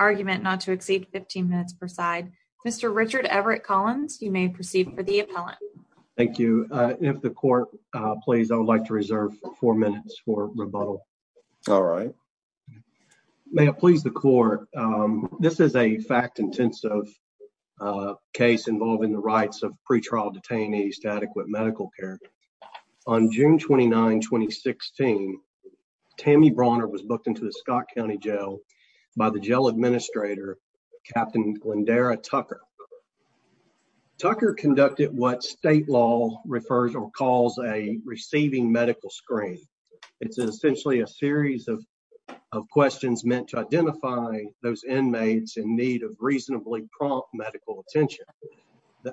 argument not to exceed 15 minutes per side. Mr. Richard Everett Collins, you may proceed for the appellant. Thank you. If the court please, I would like to reserve four minutes for rebuttal. All right. May it please the court. This is a fact intensive case involving the rights of pretrial detainees to adequate medical care. On June 29, 2016, Tammy Brawner was booked into the Scott County Jail by the jail administrator, Captain Glendara Tucker. Tucker conducted what state law refers or calls a receiving medical screen. It's essentially a series of of questions meant to identify those inmates in need of reasonably prompt medical attention.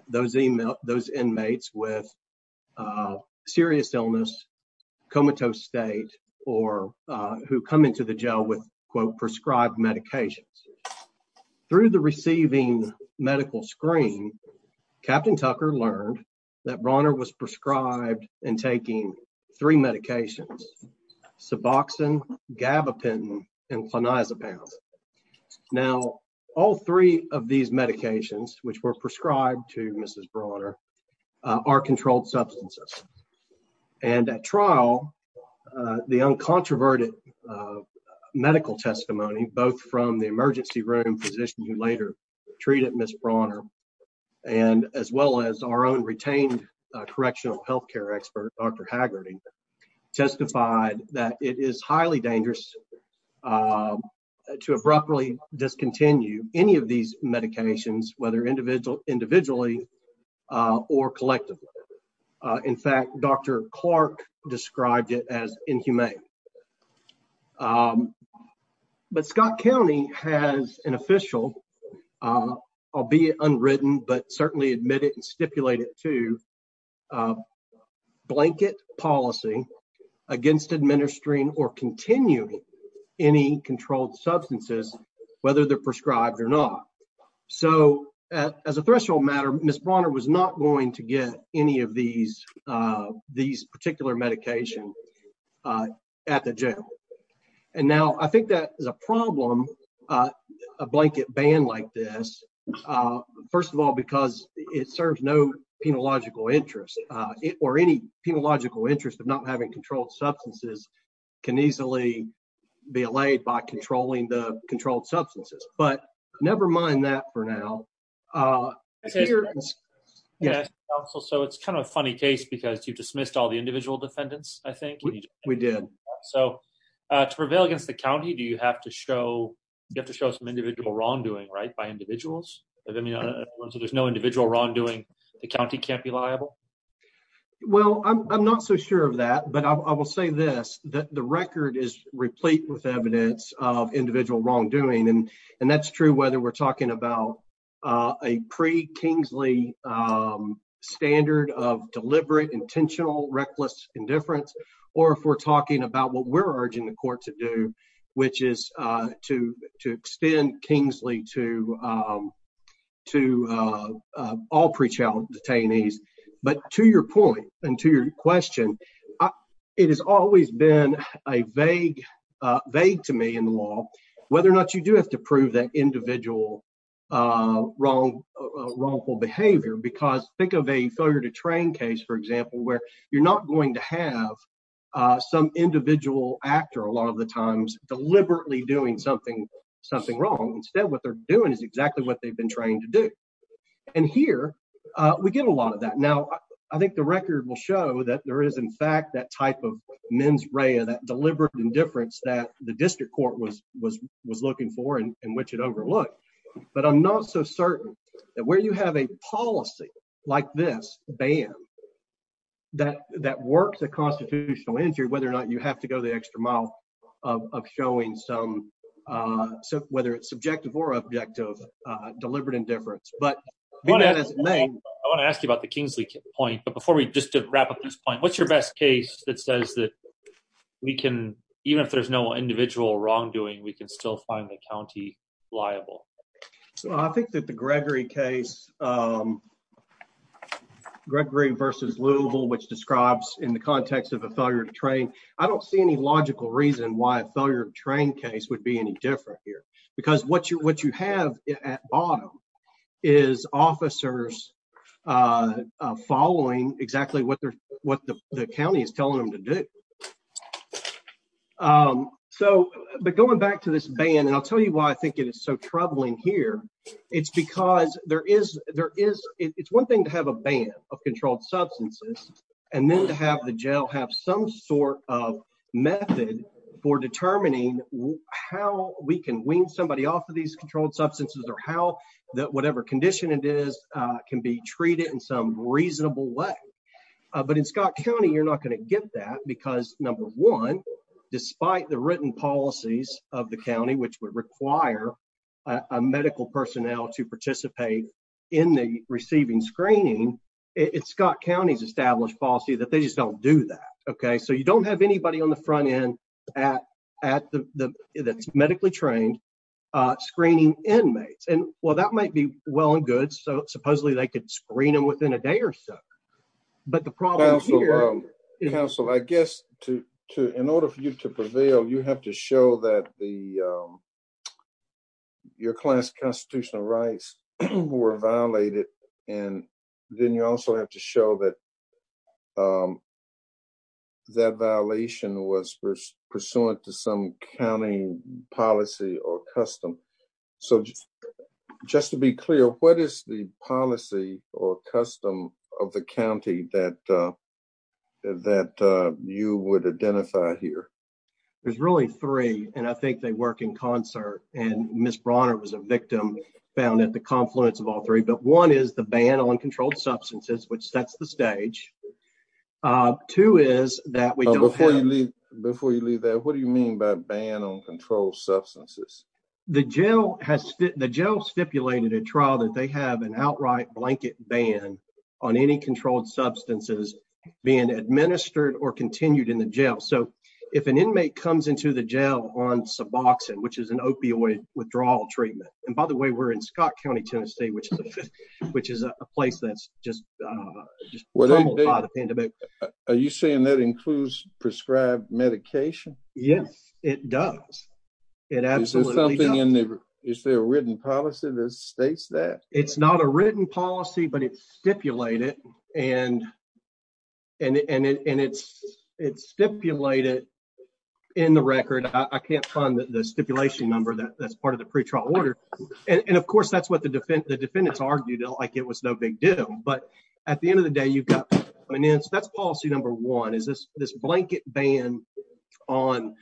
Those email those inmates with serious illness, comatose state or who come into the jail with, quote, prescribed medications through the receiving medical screen. Captain Tucker learned that Brawner was prescribed and taking three medications. Suboxone, gabapentin and clonazepam. Now, all three of these medications which were prescribed to Mrs. Brawner are controlled substances. And at trial, the uncontroverted medical testimony, both from the emergency room physician who later treated Miss Brawner and as well as our own retained correctional health care expert, Dr. Hagerty, testified that it is highly dangerous to abruptly discontinue any of these medications, whether individual, individually or collectively. In fact, Dr. Clark described it as inhumane. But Scott County has an official, albeit unwritten, but certainly admitted and stipulated to blanket policy against administering or continuing any controlled substances, whether they're prescribed or not. So as a threshold matter, Miss Brawner was not going to get any of these these particular medication at the jail. And now I think that is a problem. A blanket ban like this. First of all, because it serves no penological interest or any penological interest of not having controlled substances can easily be allayed by controlling the controlled substances. But never mind that for now. Yes. So it's kind of a funny case because you dismissed all the individual defendants, I think we did. So to prevail against the county, do you have to show you have to show some individual wrongdoing right by individuals? I mean, there's no individual wrongdoing. The county can't be liable. Well, I'm not so sure of that, but I will say this, that the record is replete with evidence of individual wrongdoing. And that's true whether we're talking about a pre Kingsley standard of deliberate, intentional, reckless indifference, or if we're talking about what we're urging the court to do, which is to to extend Kingsley to to all pre-trial detainees. But to your point and to your question, it has always been a vague, vague to me in law, whether or not you do have to prove that individual wrong, wrongful behavior, because think of a failure to train case, for example, where you're not going to have some individual actor a lot of the times deliberately doing something, something wrong. Instead, what they're doing is exactly what they've been trained to do. And here we get a lot of that. Now, I think the record will show that there is, in fact, that type of mens rea, that deliberate indifference that the district court was was was looking for and which it overlooked. But I'm not so certain that where you have a policy like this ban that that works a constitutional injury, whether or not you have to go the extra mile of showing some, whether it's subjective or objective, deliberate indifference. But I want to ask you about the Kingsley point. But before we just wrap up this point, what's your best case that says that we can even if there's no individual wrongdoing, we can still find the county liable. So I think that the Gregory case, Gregory versus Louisville, which describes in the context of a failure to train, I don't see any logical reason why a failure to train case would be any different here. Because what you what you have at bottom is officers following exactly what they're what the county is telling them to do. So, but going back to this ban, and I'll tell you why I think it is so troubling here. It's because there is there is it's one thing to have a ban of controlled substances. And then to have the jail have some sort of method for determining how we can wean somebody off of these controlled substances or how that whatever condition it is can be treated in some reasonable way. But in Scott County, you're not going to get that because number one, despite the written policies of the county which would require a medical personnel to participate in the receiving screening. It's Scott County's established policy that they just don't do that. Okay, so you don't have anybody on the front end at at the medically trained screening inmates and well that might be well and good so supposedly they could screen them within a day or so. But the problem here is also I guess to to in order for you to prevail, you have to show that the, your class constitutional rights were violated. And then you also have to show that that violation was pursuant to some county policy or custom. So, just to be clear, what is the policy or custom of the county that that you would identify here. There's really three, and I think they work in concert, and Miss Bronner was a victim found at the confluence of all three but one is the ban on controlled substances which sets the stage to is that we don't leave before you leave that What do you mean by ban on control substances. The jail has the jail stipulated a trial that they have an outright blanket ban on any controlled substances, being administered or continued in the jail so if an inmate comes into the jail on suboxone which is an opioid withdrawal treatment. And by the way, we're in Scott County, Tennessee, which, which is a place that's just, just what are you saying that includes prescribed medication. Yes, it does. It absolutely something in there. Is there a written policy that states that it's not a written policy but it's stipulated, and, and it's it's stipulated in the record, I can't find the stipulation number that that's part of the pre trial order. And of course that's what the defense the defendants argued like it was no big deal, but at the end of the day you've got finance that's policy number one is this, this blanket ban on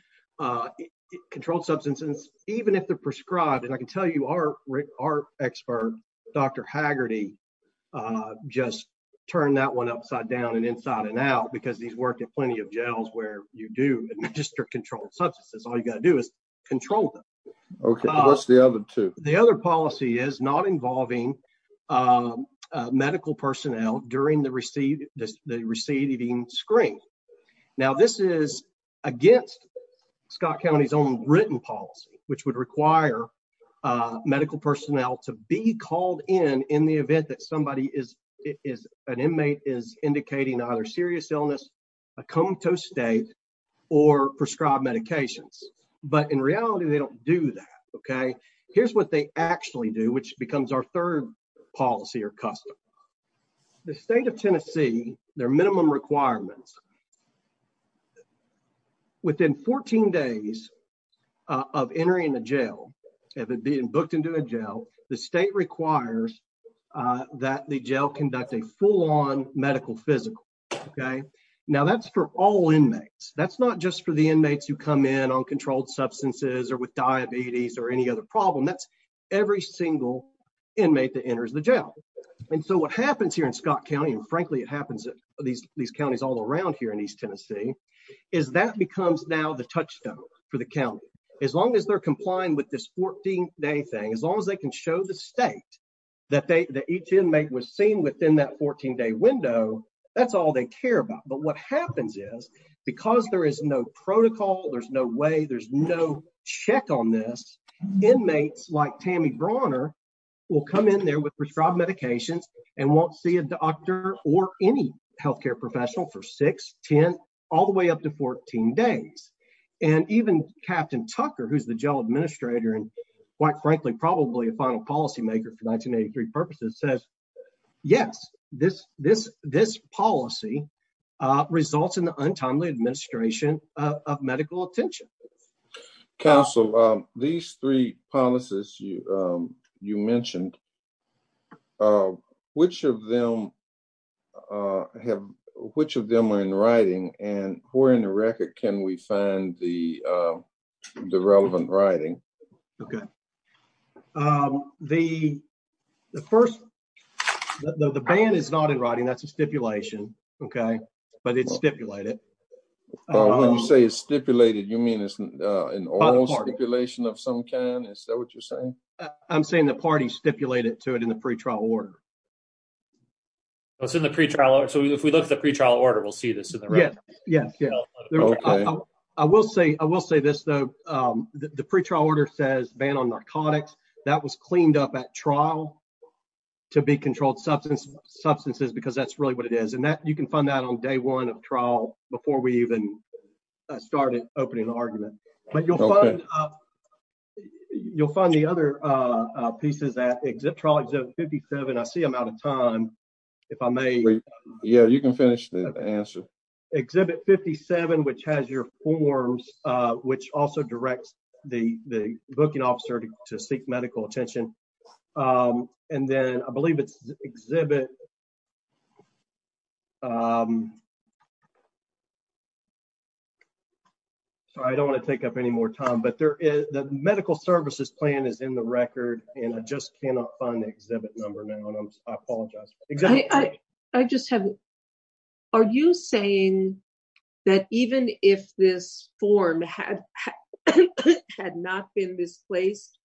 controlled substances, even if the prescribed and I can tell you our, our expert, Dr. Just turn that one upside down and inside and out because he's worked at plenty of jails where you do administer controlled substances, all you got to do is control them. The other policy is not involving medical personnel during the receive the receiving screen. Now this is against Scott County's own written policy, which would require medical personnel to be called in, in the event that somebody is it is an inmate is indicating either serious illness. A comb to state or prescribed medications, but in reality they don't do that. Okay, here's what they actually do which becomes our third policy or customer, the state of Tennessee, their minimum requirements. Within 14 days of entering the jail, and then being booked into a jail, the state requires that the jail conduct a full on medical physical. Okay. Now that's for all inmates, that's not just for the inmates who come in on controlled substances or with diabetes or any other problem that's every single inmate that enters the jail. And so what happens here in Scott County and frankly it happens at these, these counties all around here in East Tennessee, is that becomes now the touchstone for the county, as long as they're complying with this 14 day thing as long as they can show the state. That they that each inmate was seen within that 14 day window. That's all they care about. But what happens is, because there is no protocol, there's no way there's no check on this inmates like Tammy brawner will come in there with prescribed medications and won't see a doctor or any healthcare professional for 610, all the way up to 14 days. And even Captain Tucker who's the jail administrator and quite frankly probably a final policymaker for 1983 purposes says, Yes, this, this, this policy results in the untimely administration of medical attention. Council. These three policies, you, you mentioned, which of them have, which of them are in writing, and we're in the record. Can we find the, the relevant writing. Okay. The, the first. The band is not in writing that's a stipulation. Okay, but it's stipulated say is stipulated you mean isn't an oral stipulation of some kind. Is that what you're saying, I'm saying the party stipulated to it in the pre trial order. What's in the pre trial. So if we look at the pre trial order we'll see this in there. Yeah, yeah, yeah. I will say, I will say this, though, the pre trial order says ban on narcotics that was cleaned up at trial to be controlled substance substances because that's really what it is and that you can find that on day one of trial, before we even started opening the argument, but you'll find up. You'll find the other pieces that exit trials of 57 I see I'm out of time. If I may. Yeah, you can finish the answer. Exhibit 57 which has your forms, which also directs the booking officer to seek medical attention. And then I believe it's exhibit. So I don't want to take up any more time but there is the medical services plan is in the record, and I just cannot find the exhibit number now and I apologize. I just have. Are you saying that even if this form had had not been misplaced.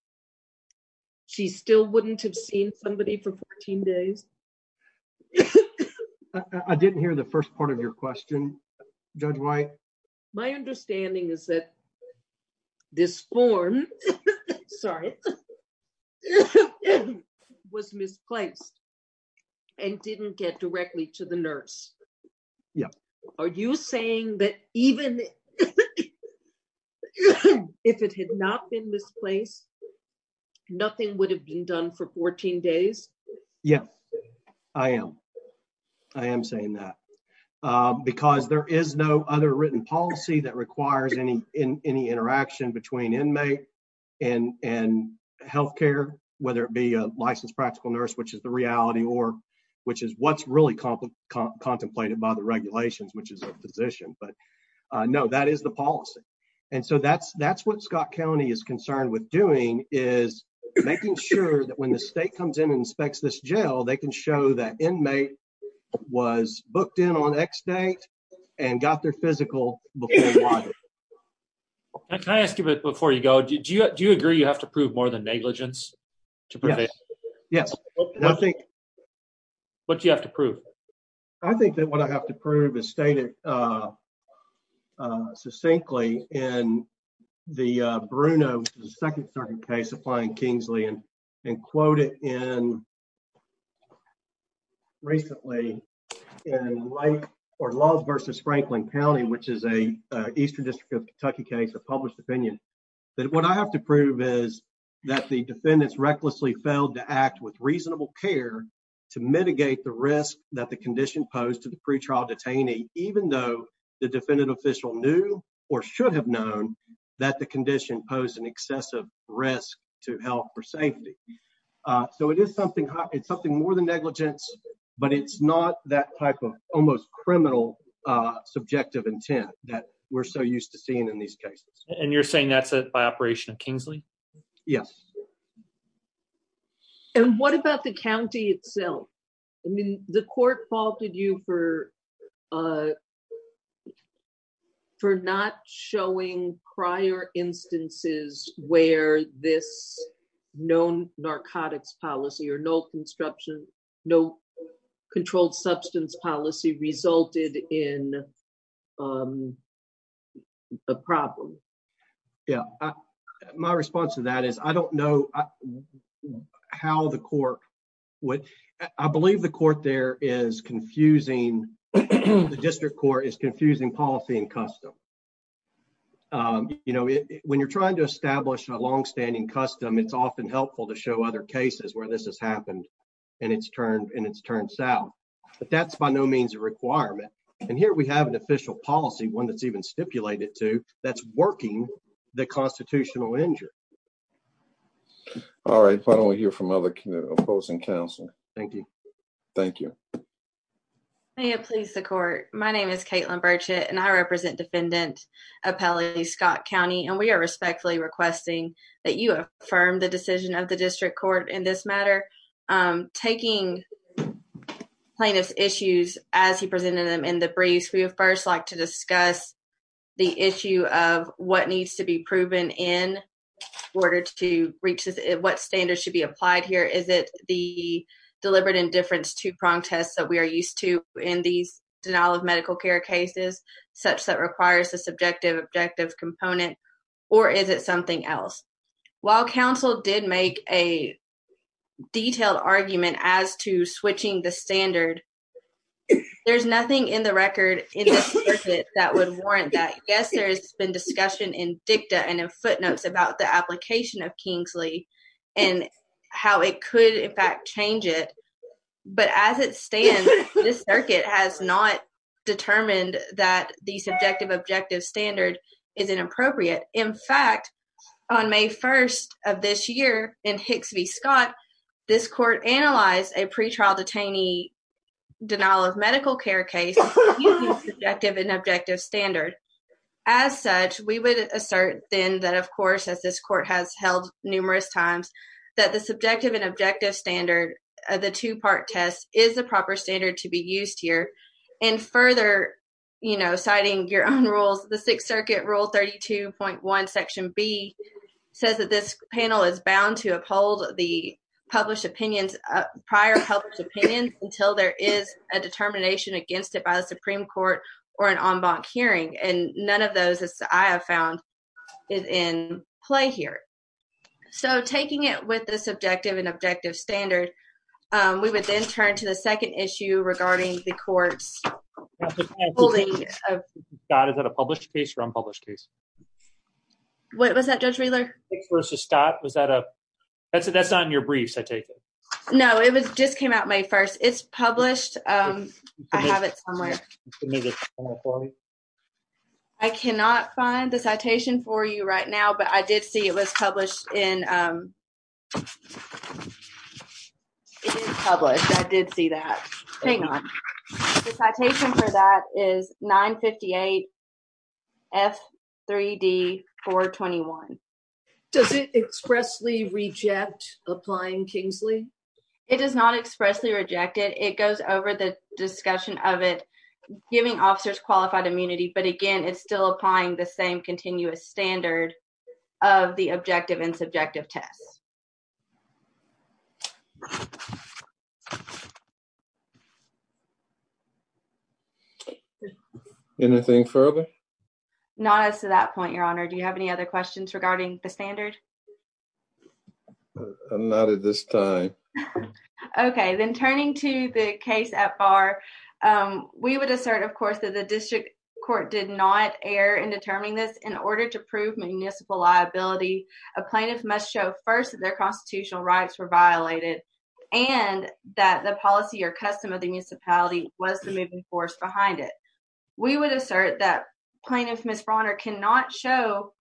She still wouldn't have seen somebody for 14 days. I didn't hear the first part of your question. Judge right. My understanding is that this form. Sorry, was misplaced and didn't get directly to the nurse. Yeah. Are you saying that even if it had not been misplaced. Nothing would have been done for 14 days. Yes, I am. I am saying that because there is no other written policy that requires any in any interaction between inmate and and healthcare, whether it be a licensed practical nurse which is the reality or, which is what's really complicated contemplated by the regulations which is a physician but no that is the policy. And so that's that's what Scott County is concerned with doing is making sure that when the state comes in and inspects this jail they can show that inmate was booked in on x date, and got their physical. Can I ask you a bit before you go do you do you agree you have to prove more than negligence. Yes, I think. What do you have to prove. I think that what I have to prove is stated. Succinctly, and the Bruno second starting case applying Kingsley and and quoted in. Recently, in life, or laws versus Franklin County which is a eastern district of Kentucky case of published opinion that what I have to prove is that the defendants recklessly failed to act with reasonable care to mitigate the risk that the condition posed to the pre trial detainee, even though the defendant official knew, or should have known that the condition posed an excessive risk to health or safety. So it is something, it's something more than negligence, but it's not that type of almost criminal subjective intent that we're so used to seeing in these cases, and you're saying that's it by operation of Kingsley. Yes. And what about the county itself. I mean, the court faulted you for, for not showing prior instances where this known narcotics policy or no construction, no controlled substance policy resulted in a problem. Yeah. My response to that is I don't know how the court would, I believe the court there is confusing the district court is confusing policy and custom. You know, when you're trying to establish a long standing custom it's often helpful to show other cases where this has happened, and it's turned and it's turned south, but that's by no means a requirement. And here we have an official policy one that's even stipulated to that's working, the constitutional injure. All right, why don't we hear from other opposing counsel. Thank you. Thank you. Please the court. My name is Caitlin Burchett and I represent defendant appellee Scott County and we are respectfully requesting that you affirm the decision of the district court in this matter. Taking plaintiff's issues, as he presented them in the briefs we have first like to discuss the issue of what needs to be proven in order to reach what standards should be applied here is it the deliberate indifference to prong tests that we are used to in these denial of medical care cases, such that requires a subjective objective component, or is it something else. While Council did make a detailed argument as to switching the standard. There's nothing in the record that would warrant that yes there's been discussion in dicta and in footnotes about the application of Kingsley, and how it could in fact change it. But as it stands, this circuit has not determined that the subjective objective standard is inappropriate. In fact, on May 1 of this year in Hicks v Scott. This court analyze a pretrial detainee denial of medical care case objective and objective standard. As such, we would assert, then that of course as this court has held numerous times that the subjective and objective standard of the two part test is the proper standard to be used here. And further, you know, citing your own rules, the Sixth Circuit rule 32.1 section B says that this panel is bound to uphold the published opinions prior helps opinion until there is a determination against it by the Supreme Court, or an en banc hearing and none of those I have found is in play here. So taking it with the subjective and objective standard. We would then turn to the second issue regarding the courts. God is that a published case from published case. What was that judge Wheeler versus Scott was that a that's a that's on your briefs I take it. No, it was just came out my first it's published. I have it somewhere. I cannot find the citation for you right now but I did see it was published in public. I did see that thing on the citation for that is 958 f 3d for 21. Does it expressly reject applying Kingsley. It does not expressly rejected it goes over the discussion of it, giving officers qualified immunity but again it's still applying the same continuous standard of the objective and subjective tests. Anything further. Not as to that point your honor Do you have any other questions regarding the standard. Not at this time. Okay, then turning to the case at bar. We would assert of course that the district court did not air and determining this in order to prove municipal liability, a plaintiff must show first their constitutional rights were violated, and that the policy or custom of the municipality was the moving force behind it. We would assert that plaintiff Miss Bronner cannot show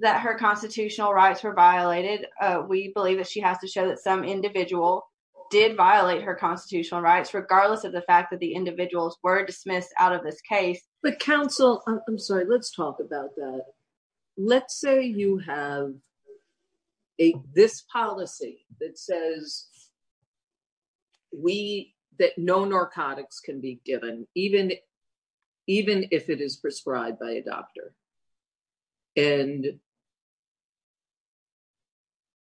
that her constitutional rights were violated. We believe that she has to show that some individual did violate her constitutional rights regardless of the fact that the individuals were dismissed out of this case, but counsel. I'm sorry let's talk about that. Let's say you have a this policy that says we that no narcotics can be given, even, even if it is prescribed by a doctor. And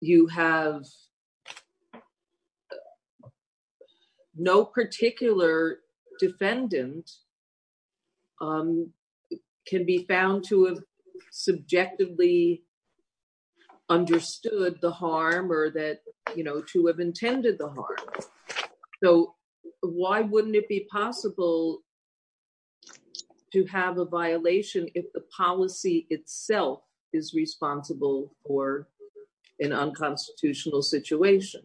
you have no particular defendant can be found to have subjectively understood the harm or that, you know, to have intended the harm. So, why wouldn't it be possible to have a violation, if the policy itself is responsible for an unconstitutional situation.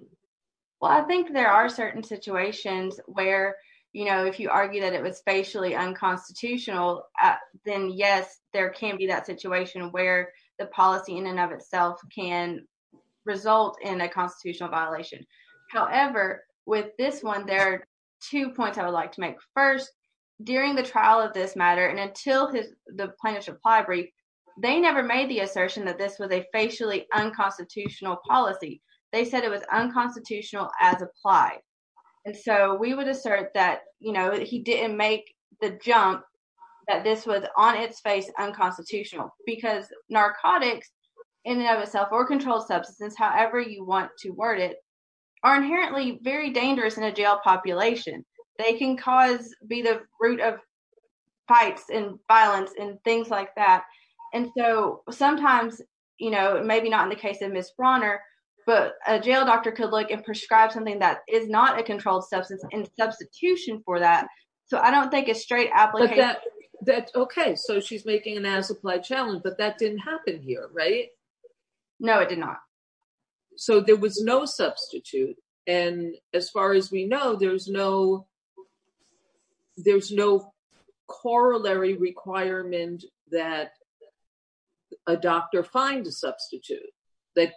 Well, I think there are certain situations where, you know, if you argue that it was facially unconstitutional, then yes, there can be that situation where the policy in and of itself can result in a constitutional violation. However, with this one there are two points I would like to make. First, during the trial of this matter and until the plaintiff's reply brief, they never made the assertion that this was a facially unconstitutional policy. They said it was unconstitutional as applied. And so we would assert that, you know, he didn't make the jump that this was on its face unconstitutional because narcotics in and of itself, or controlled substance, however you want to word it, are inherently very dangerous in a jail population. They can cause, be the root of fights and violence and things like that. And so sometimes, you know, maybe not in the case of Ms. Brawner, but a jail doctor could look and prescribe something that is not a controlled substance and substitution for that. So I don't think it's straight application. Okay, so she's making an as-applied challenge, but that didn't happen here, right? No, it did not. So there was no substitute. And as far as we know, there's no corollary requirement that a doctor find a substitute that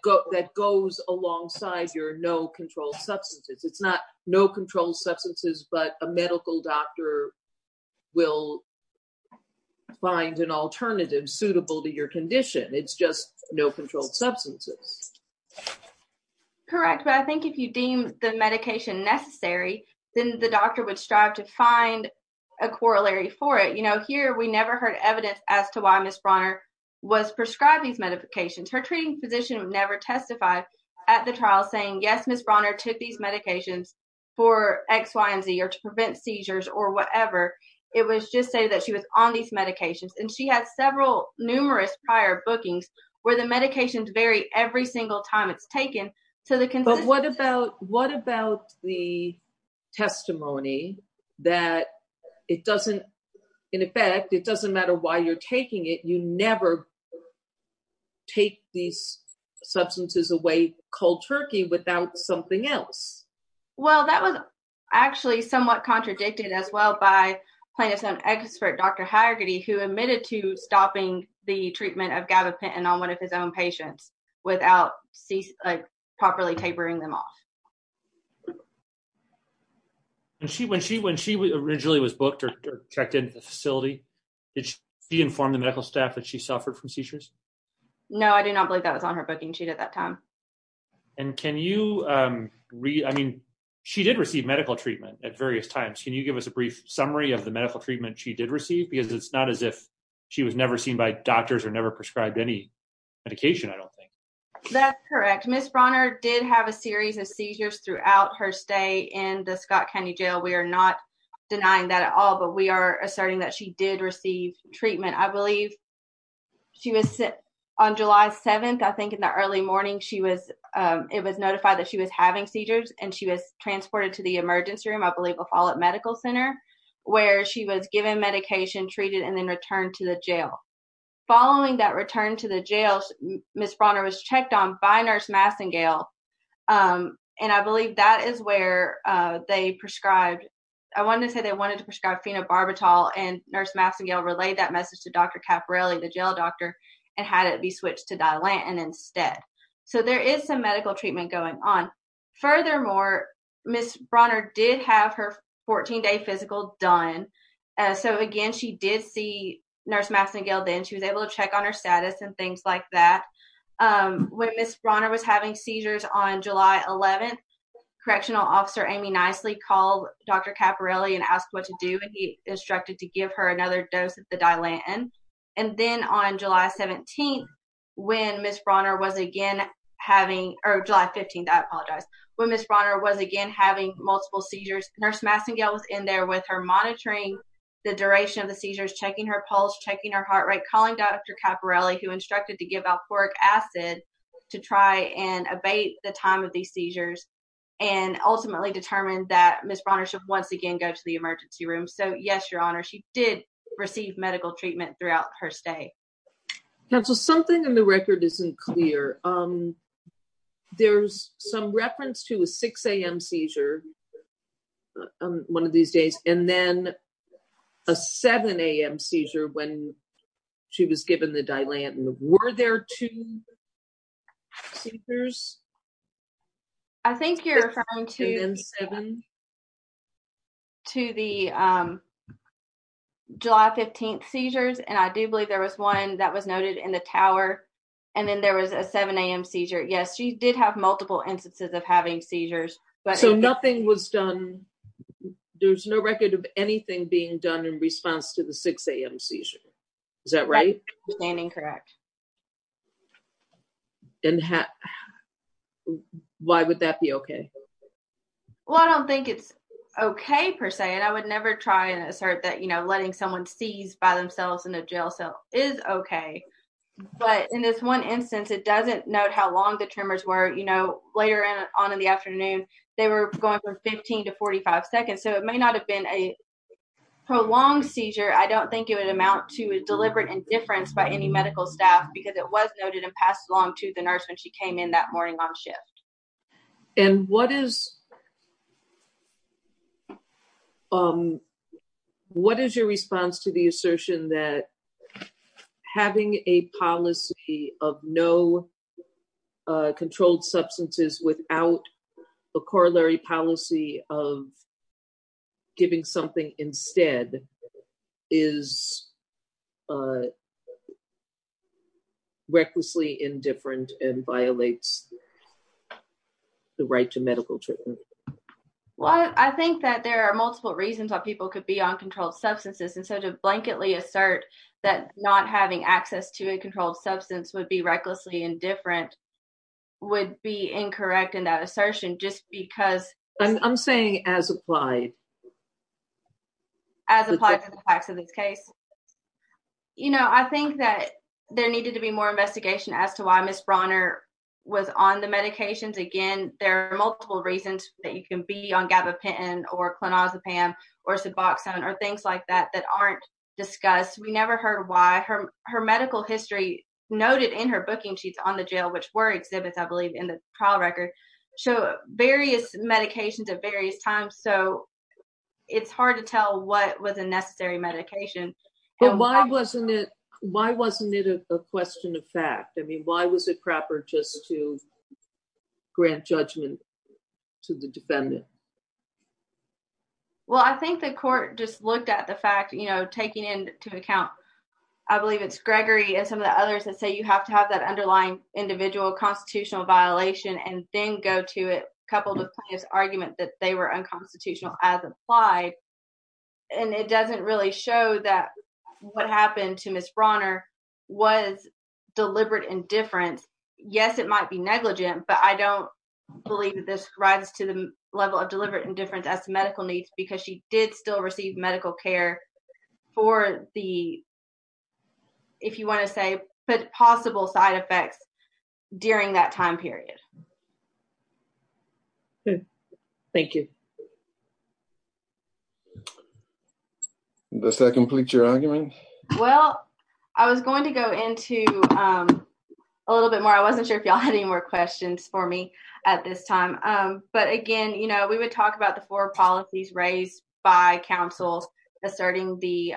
goes alongside your no-control substances. It's not no-control substances, but a medical doctor will find an alternative suitable to your condition. It's just no-control substances. Correct, but I think if you deem the medication necessary, then the doctor would strive to find a corollary for it. You know, here we never heard evidence as to why Ms. Brawner was prescribed these medications. Her treating physician would never testify at the trial saying, yes, Ms. Brawner took these medications for X, Y, and Z or to prevent seizures or whatever. It was just stated that she was on these medications. And she had several numerous prior bookings where the medications vary every single time it's taken. But what about the testimony that it doesn't, in effect, it doesn't matter why you're taking it, you never take these substances away cold turkey without something else? Well, that was actually somewhat contradicted as well by plaintiff's own expert, Dr. Hagerty, who admitted to stopping the treatment of gabapentin on one of his own patients without properly tapering them off. When she originally was booked or checked into the facility, did she inform the medical staff that she suffered from seizures? No, I do not believe that was on her booking sheet at that time. And can you read, I mean, she did receive medical treatment at various times. Can you give us a brief summary of the medical treatment she did receive? Because it's not as if she was never seen by doctors or never prescribed any medication, I don't think. That's correct. Ms. Brawner did have a series of seizures throughout her stay in the Scott County jail. We are not denying that at all, but we are asserting that she did receive treatment. I believe she was on July 7th, I think in the early morning, she was, it was notified that she was having seizures and she was transported to the emergency room. I believe a fall at medical center where she was given medication, treated and then returned to the jail. Following that return to the jail, Ms. Brawner was checked on by nurse Massengale. And I believe that is where they prescribed, I wanted to say they wanted to prescribe phenobarbital and nurse Massengale relayed that message to Dr. Caporelli, the jail doctor, and had it be switched to Dilantin instead. So there is some medical treatment going on. Furthermore, Ms. Brawner did have her 14 day physical done. So again, she did see nurse Massengale then she was able to check on her status and things like that. When Ms. Brawner was having seizures on July 11th, correctional officer Amy Nicely called Dr. Caporelli and asked what to do and he instructed to give her another dose of the Dilantin. And then on July 17th, when Ms. Brawner was again having, or July 15th, I apologize. When Ms. Brawner was again having multiple seizures, nurse Massengale was in there with her monitoring the duration of the seizures, checking her pulse, checking her heart rate, calling Dr. Caporelli, who instructed to give alphoric acid to try and abate the time of these seizures and ultimately determined that Ms. Brawner should once again go to the emergency room. So yes, your honor, she did receive medical treatment throughout her stay. Counsel, something in the record isn't clear. There's some reference to a 6 a.m. seizure, one of these days, and then a 7 a.m. seizure when she was given the Dilantin. Were there two seizures? I think you're referring to the July 15th seizures. And I do believe there was one that was noted in the tower. And then there was a 7 a.m. seizure. Yes, she did have multiple instances of having seizures. So nothing was done. There's no record of anything being done in response to the 6 a.m. seizure. Is that right? Correct. And why would that be okay? Well, I don't think it's okay, per se. And I would never try and assert that, you know, letting someone seize by themselves in a jail cell is okay. But in this one instance, it doesn't note how long the tremors were, you know, later on in the afternoon. They were going from 15 to 45 seconds. So it may not have been a prolonged seizure. I don't think it would amount to a deliberate indifference by any medical staff because it was noted and passed along to the nurse when she came in that morning on shift. And what is your response to the assertion that having a policy of no controlled substances without a corollary policy of giving something instead is recklessly indifferent and violates the right to medical treatment? Well, I think that there are multiple reasons why people could be on controlled substances. And so to blanketly assert that not having access to a controlled substance would be recklessly indifferent would be incorrect in that assertion just because. I'm saying as applied. As applied to the facts of this case, you know, I think that there needed to be more investigation as to why Miss Brawner was on the medications. Again, there are multiple reasons that you can be on gabapentin or clonazepam or suboxone or things like that that aren't discussed. We never heard why her medical history noted in her booking sheets on the jail, which were exhibits, I believe, in the trial record show various medications at various times. So it's hard to tell what was a necessary medication. Why wasn't it? Why wasn't it a question of fact? I mean, why was it proper just to grant judgment to the defendant? Well, I think the court just looked at the fact, you know, taking into account, I believe it's Gregory and some of the others that say you have to have that underlying individual constitutional violation and then go to it. And it doesn't really show that what happened to Miss Brawner was deliberate indifference. Yes, it might be negligent, but I don't believe that this rises to the level of deliberate indifference as to medical needs because she did still receive medical care for the. If you want to say, but possible side effects during that time period. Thank you. Does that complete your argument? Well, I was going to go into a little bit more. I wasn't sure if you had any more questions for me at this time. But again, you know, we would talk about the four policies raised by counsels asserting the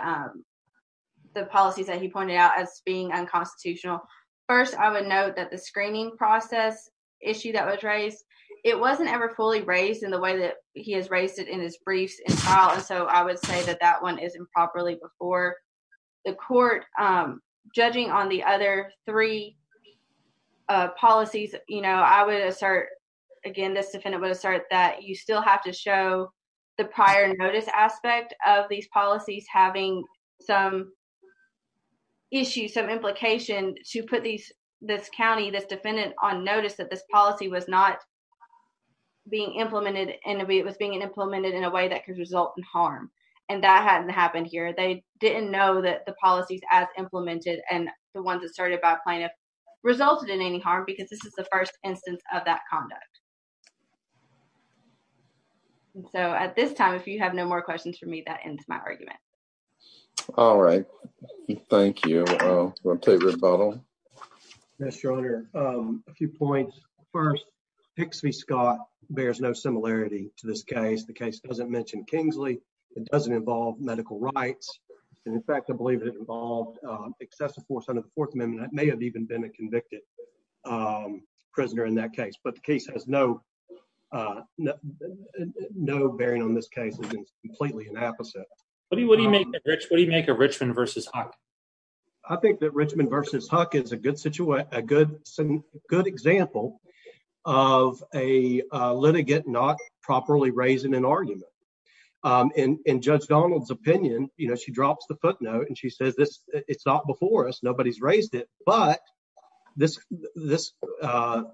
the policies that he pointed out as being unconstitutional. First, I would note that the screening process issue that was raised, it wasn't ever fully raised in the way that he has raised it in his briefs. And so I would say that that one is improperly before the court. Judging on the other three policies, you know, I would assert again, this defendant would assert that you still have to show the prior notice aspect of these policies, having some. Issue some implication to put these this county, this defendant on notice that this policy was not being implemented, and it was being implemented in a way that could result in harm. And that hadn't happened here. They didn't know that the policies as implemented and the ones that started by plaintiff resulted in any harm because this is the first instance of that conduct. So at this time, if you have no more questions for me, that ends my argument. All right. Thank you. Yes, Your Honor. A few points. First, Hicks v. Scott bears no similarity to this case. The case doesn't mention Kingsley. It doesn't involve medical rights. And in fact, I believe it involved excessive force under the Fourth Amendment that may have even been a convicted prisoner in that case. But the case has no bearing on this case. It's completely an opposite. What do you make of Richmond v. Huck? I think that Richmond v. Huck is a good example of a litigant not properly raising an argument. In Judge Donald's opinion, you know, she drops the footnote and she says this. It's not before us. Nobody's raised it. But this this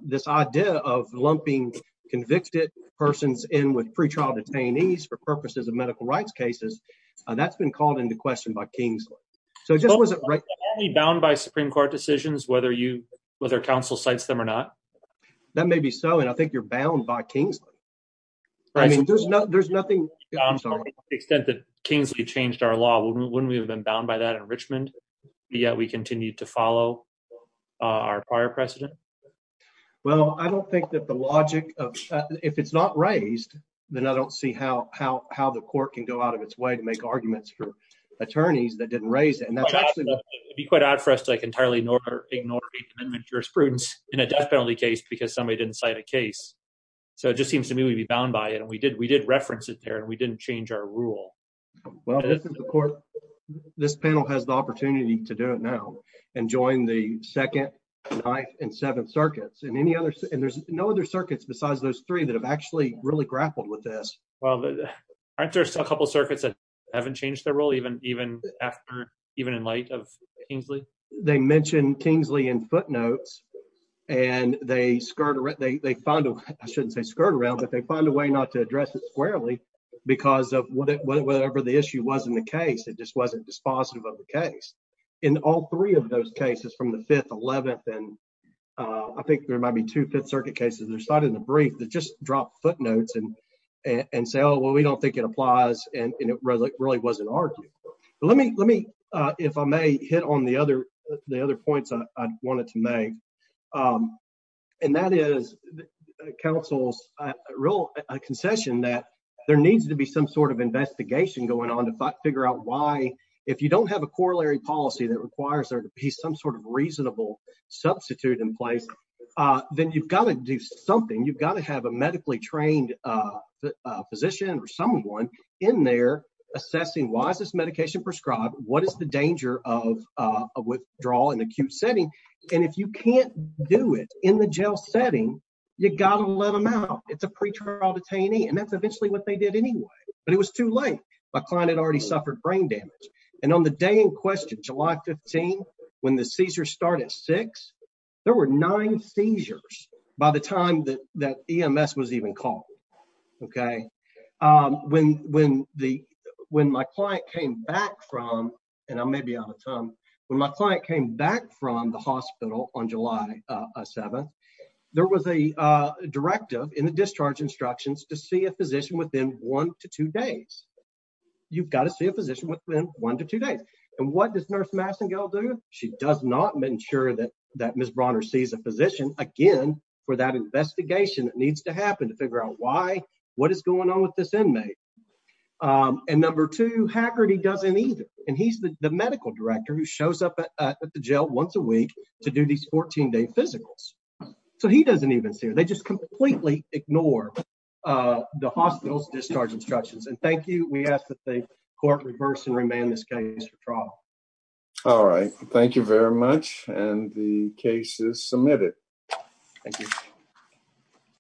this idea of lumping convicted persons in with pretrial detainees for purposes of medical rights cases. And that's been called into question by Kingsley. So it just wasn't right. Are we bound by Supreme Court decisions, whether you whether counsel cites them or not? That may be so. And I think you're bound by Kingsley. I mean, there's no there's nothing. To the extent that Kingsley changed our law, wouldn't we have been bound by that in Richmond yet we continue to follow our prior precedent? Well, I don't think that the logic of if it's not raised, then I don't see how how how the court can go out of its way to make arguments for attorneys that didn't raise it. It would be quite odd for us to entirely ignore or ignore jurisprudence in a death penalty case because somebody didn't cite a case. So it just seems to me we'd be bound by it. And we did we did reference it there and we didn't change our rule. Well, this is the court. This panel has the opportunity to do it now and join the second, ninth and seventh circuits and any other. And there's no other circuits besides those three that have actually really grappled with this. Well, aren't there still a couple of circuits that haven't changed their role even even after even in light of Kingsley? They mentioned Kingsley in footnotes and they skirt around. They find a I shouldn't say skirt around, but they find a way not to address it squarely because of whatever the issue was in the case. It just wasn't dispositive of the case in all three of those cases from the 5th, 11th. And I think there might be two Fifth Circuit cases that are cited in the brief that just drop footnotes and and say, oh, well, we don't think it applies. And it really, really wasn't argued. Let me let me if I may hit on the other the other points I wanted to make. And that is counsel's real concession that there needs to be some sort of investigation going on to figure out why. If you don't have a corollary policy that requires there to be some sort of reasonable substitute in place, then you've got to do something. You've got to have a medically trained physician or someone in there assessing why is this medication prescribed? What is the danger of a withdrawal in acute setting? And if you can't do it in the jail setting, you got to let them out. It's a pretrial detainee. And that's eventually what they did anyway. But it was too late. My client had already suffered brain damage. And on the day in question, July 15, when the seizures start at six, there were nine seizures by the time that that EMS was even called. OK, when when the when my client came back from and I may be out of time when my client came back from the hospital on July 7th, there was a directive in the discharge instructions to see a physician within one to two days. You've got to see a physician within one to two days. And what does Nurse Massingill do? She does not ensure that that Miss Bronner sees a physician again for that investigation. It needs to happen to figure out why. What is going on with this inmate? And number two, Haggerty doesn't either. And he's the medical director who shows up at the jail once a week to do these 14 day physicals. So he doesn't even see her. They just completely ignore the hospital's discharge instructions. And thank you. We ask that the court reverse and remand this case for trial. All right. Thank you very much. And the case is submitted. Thank you.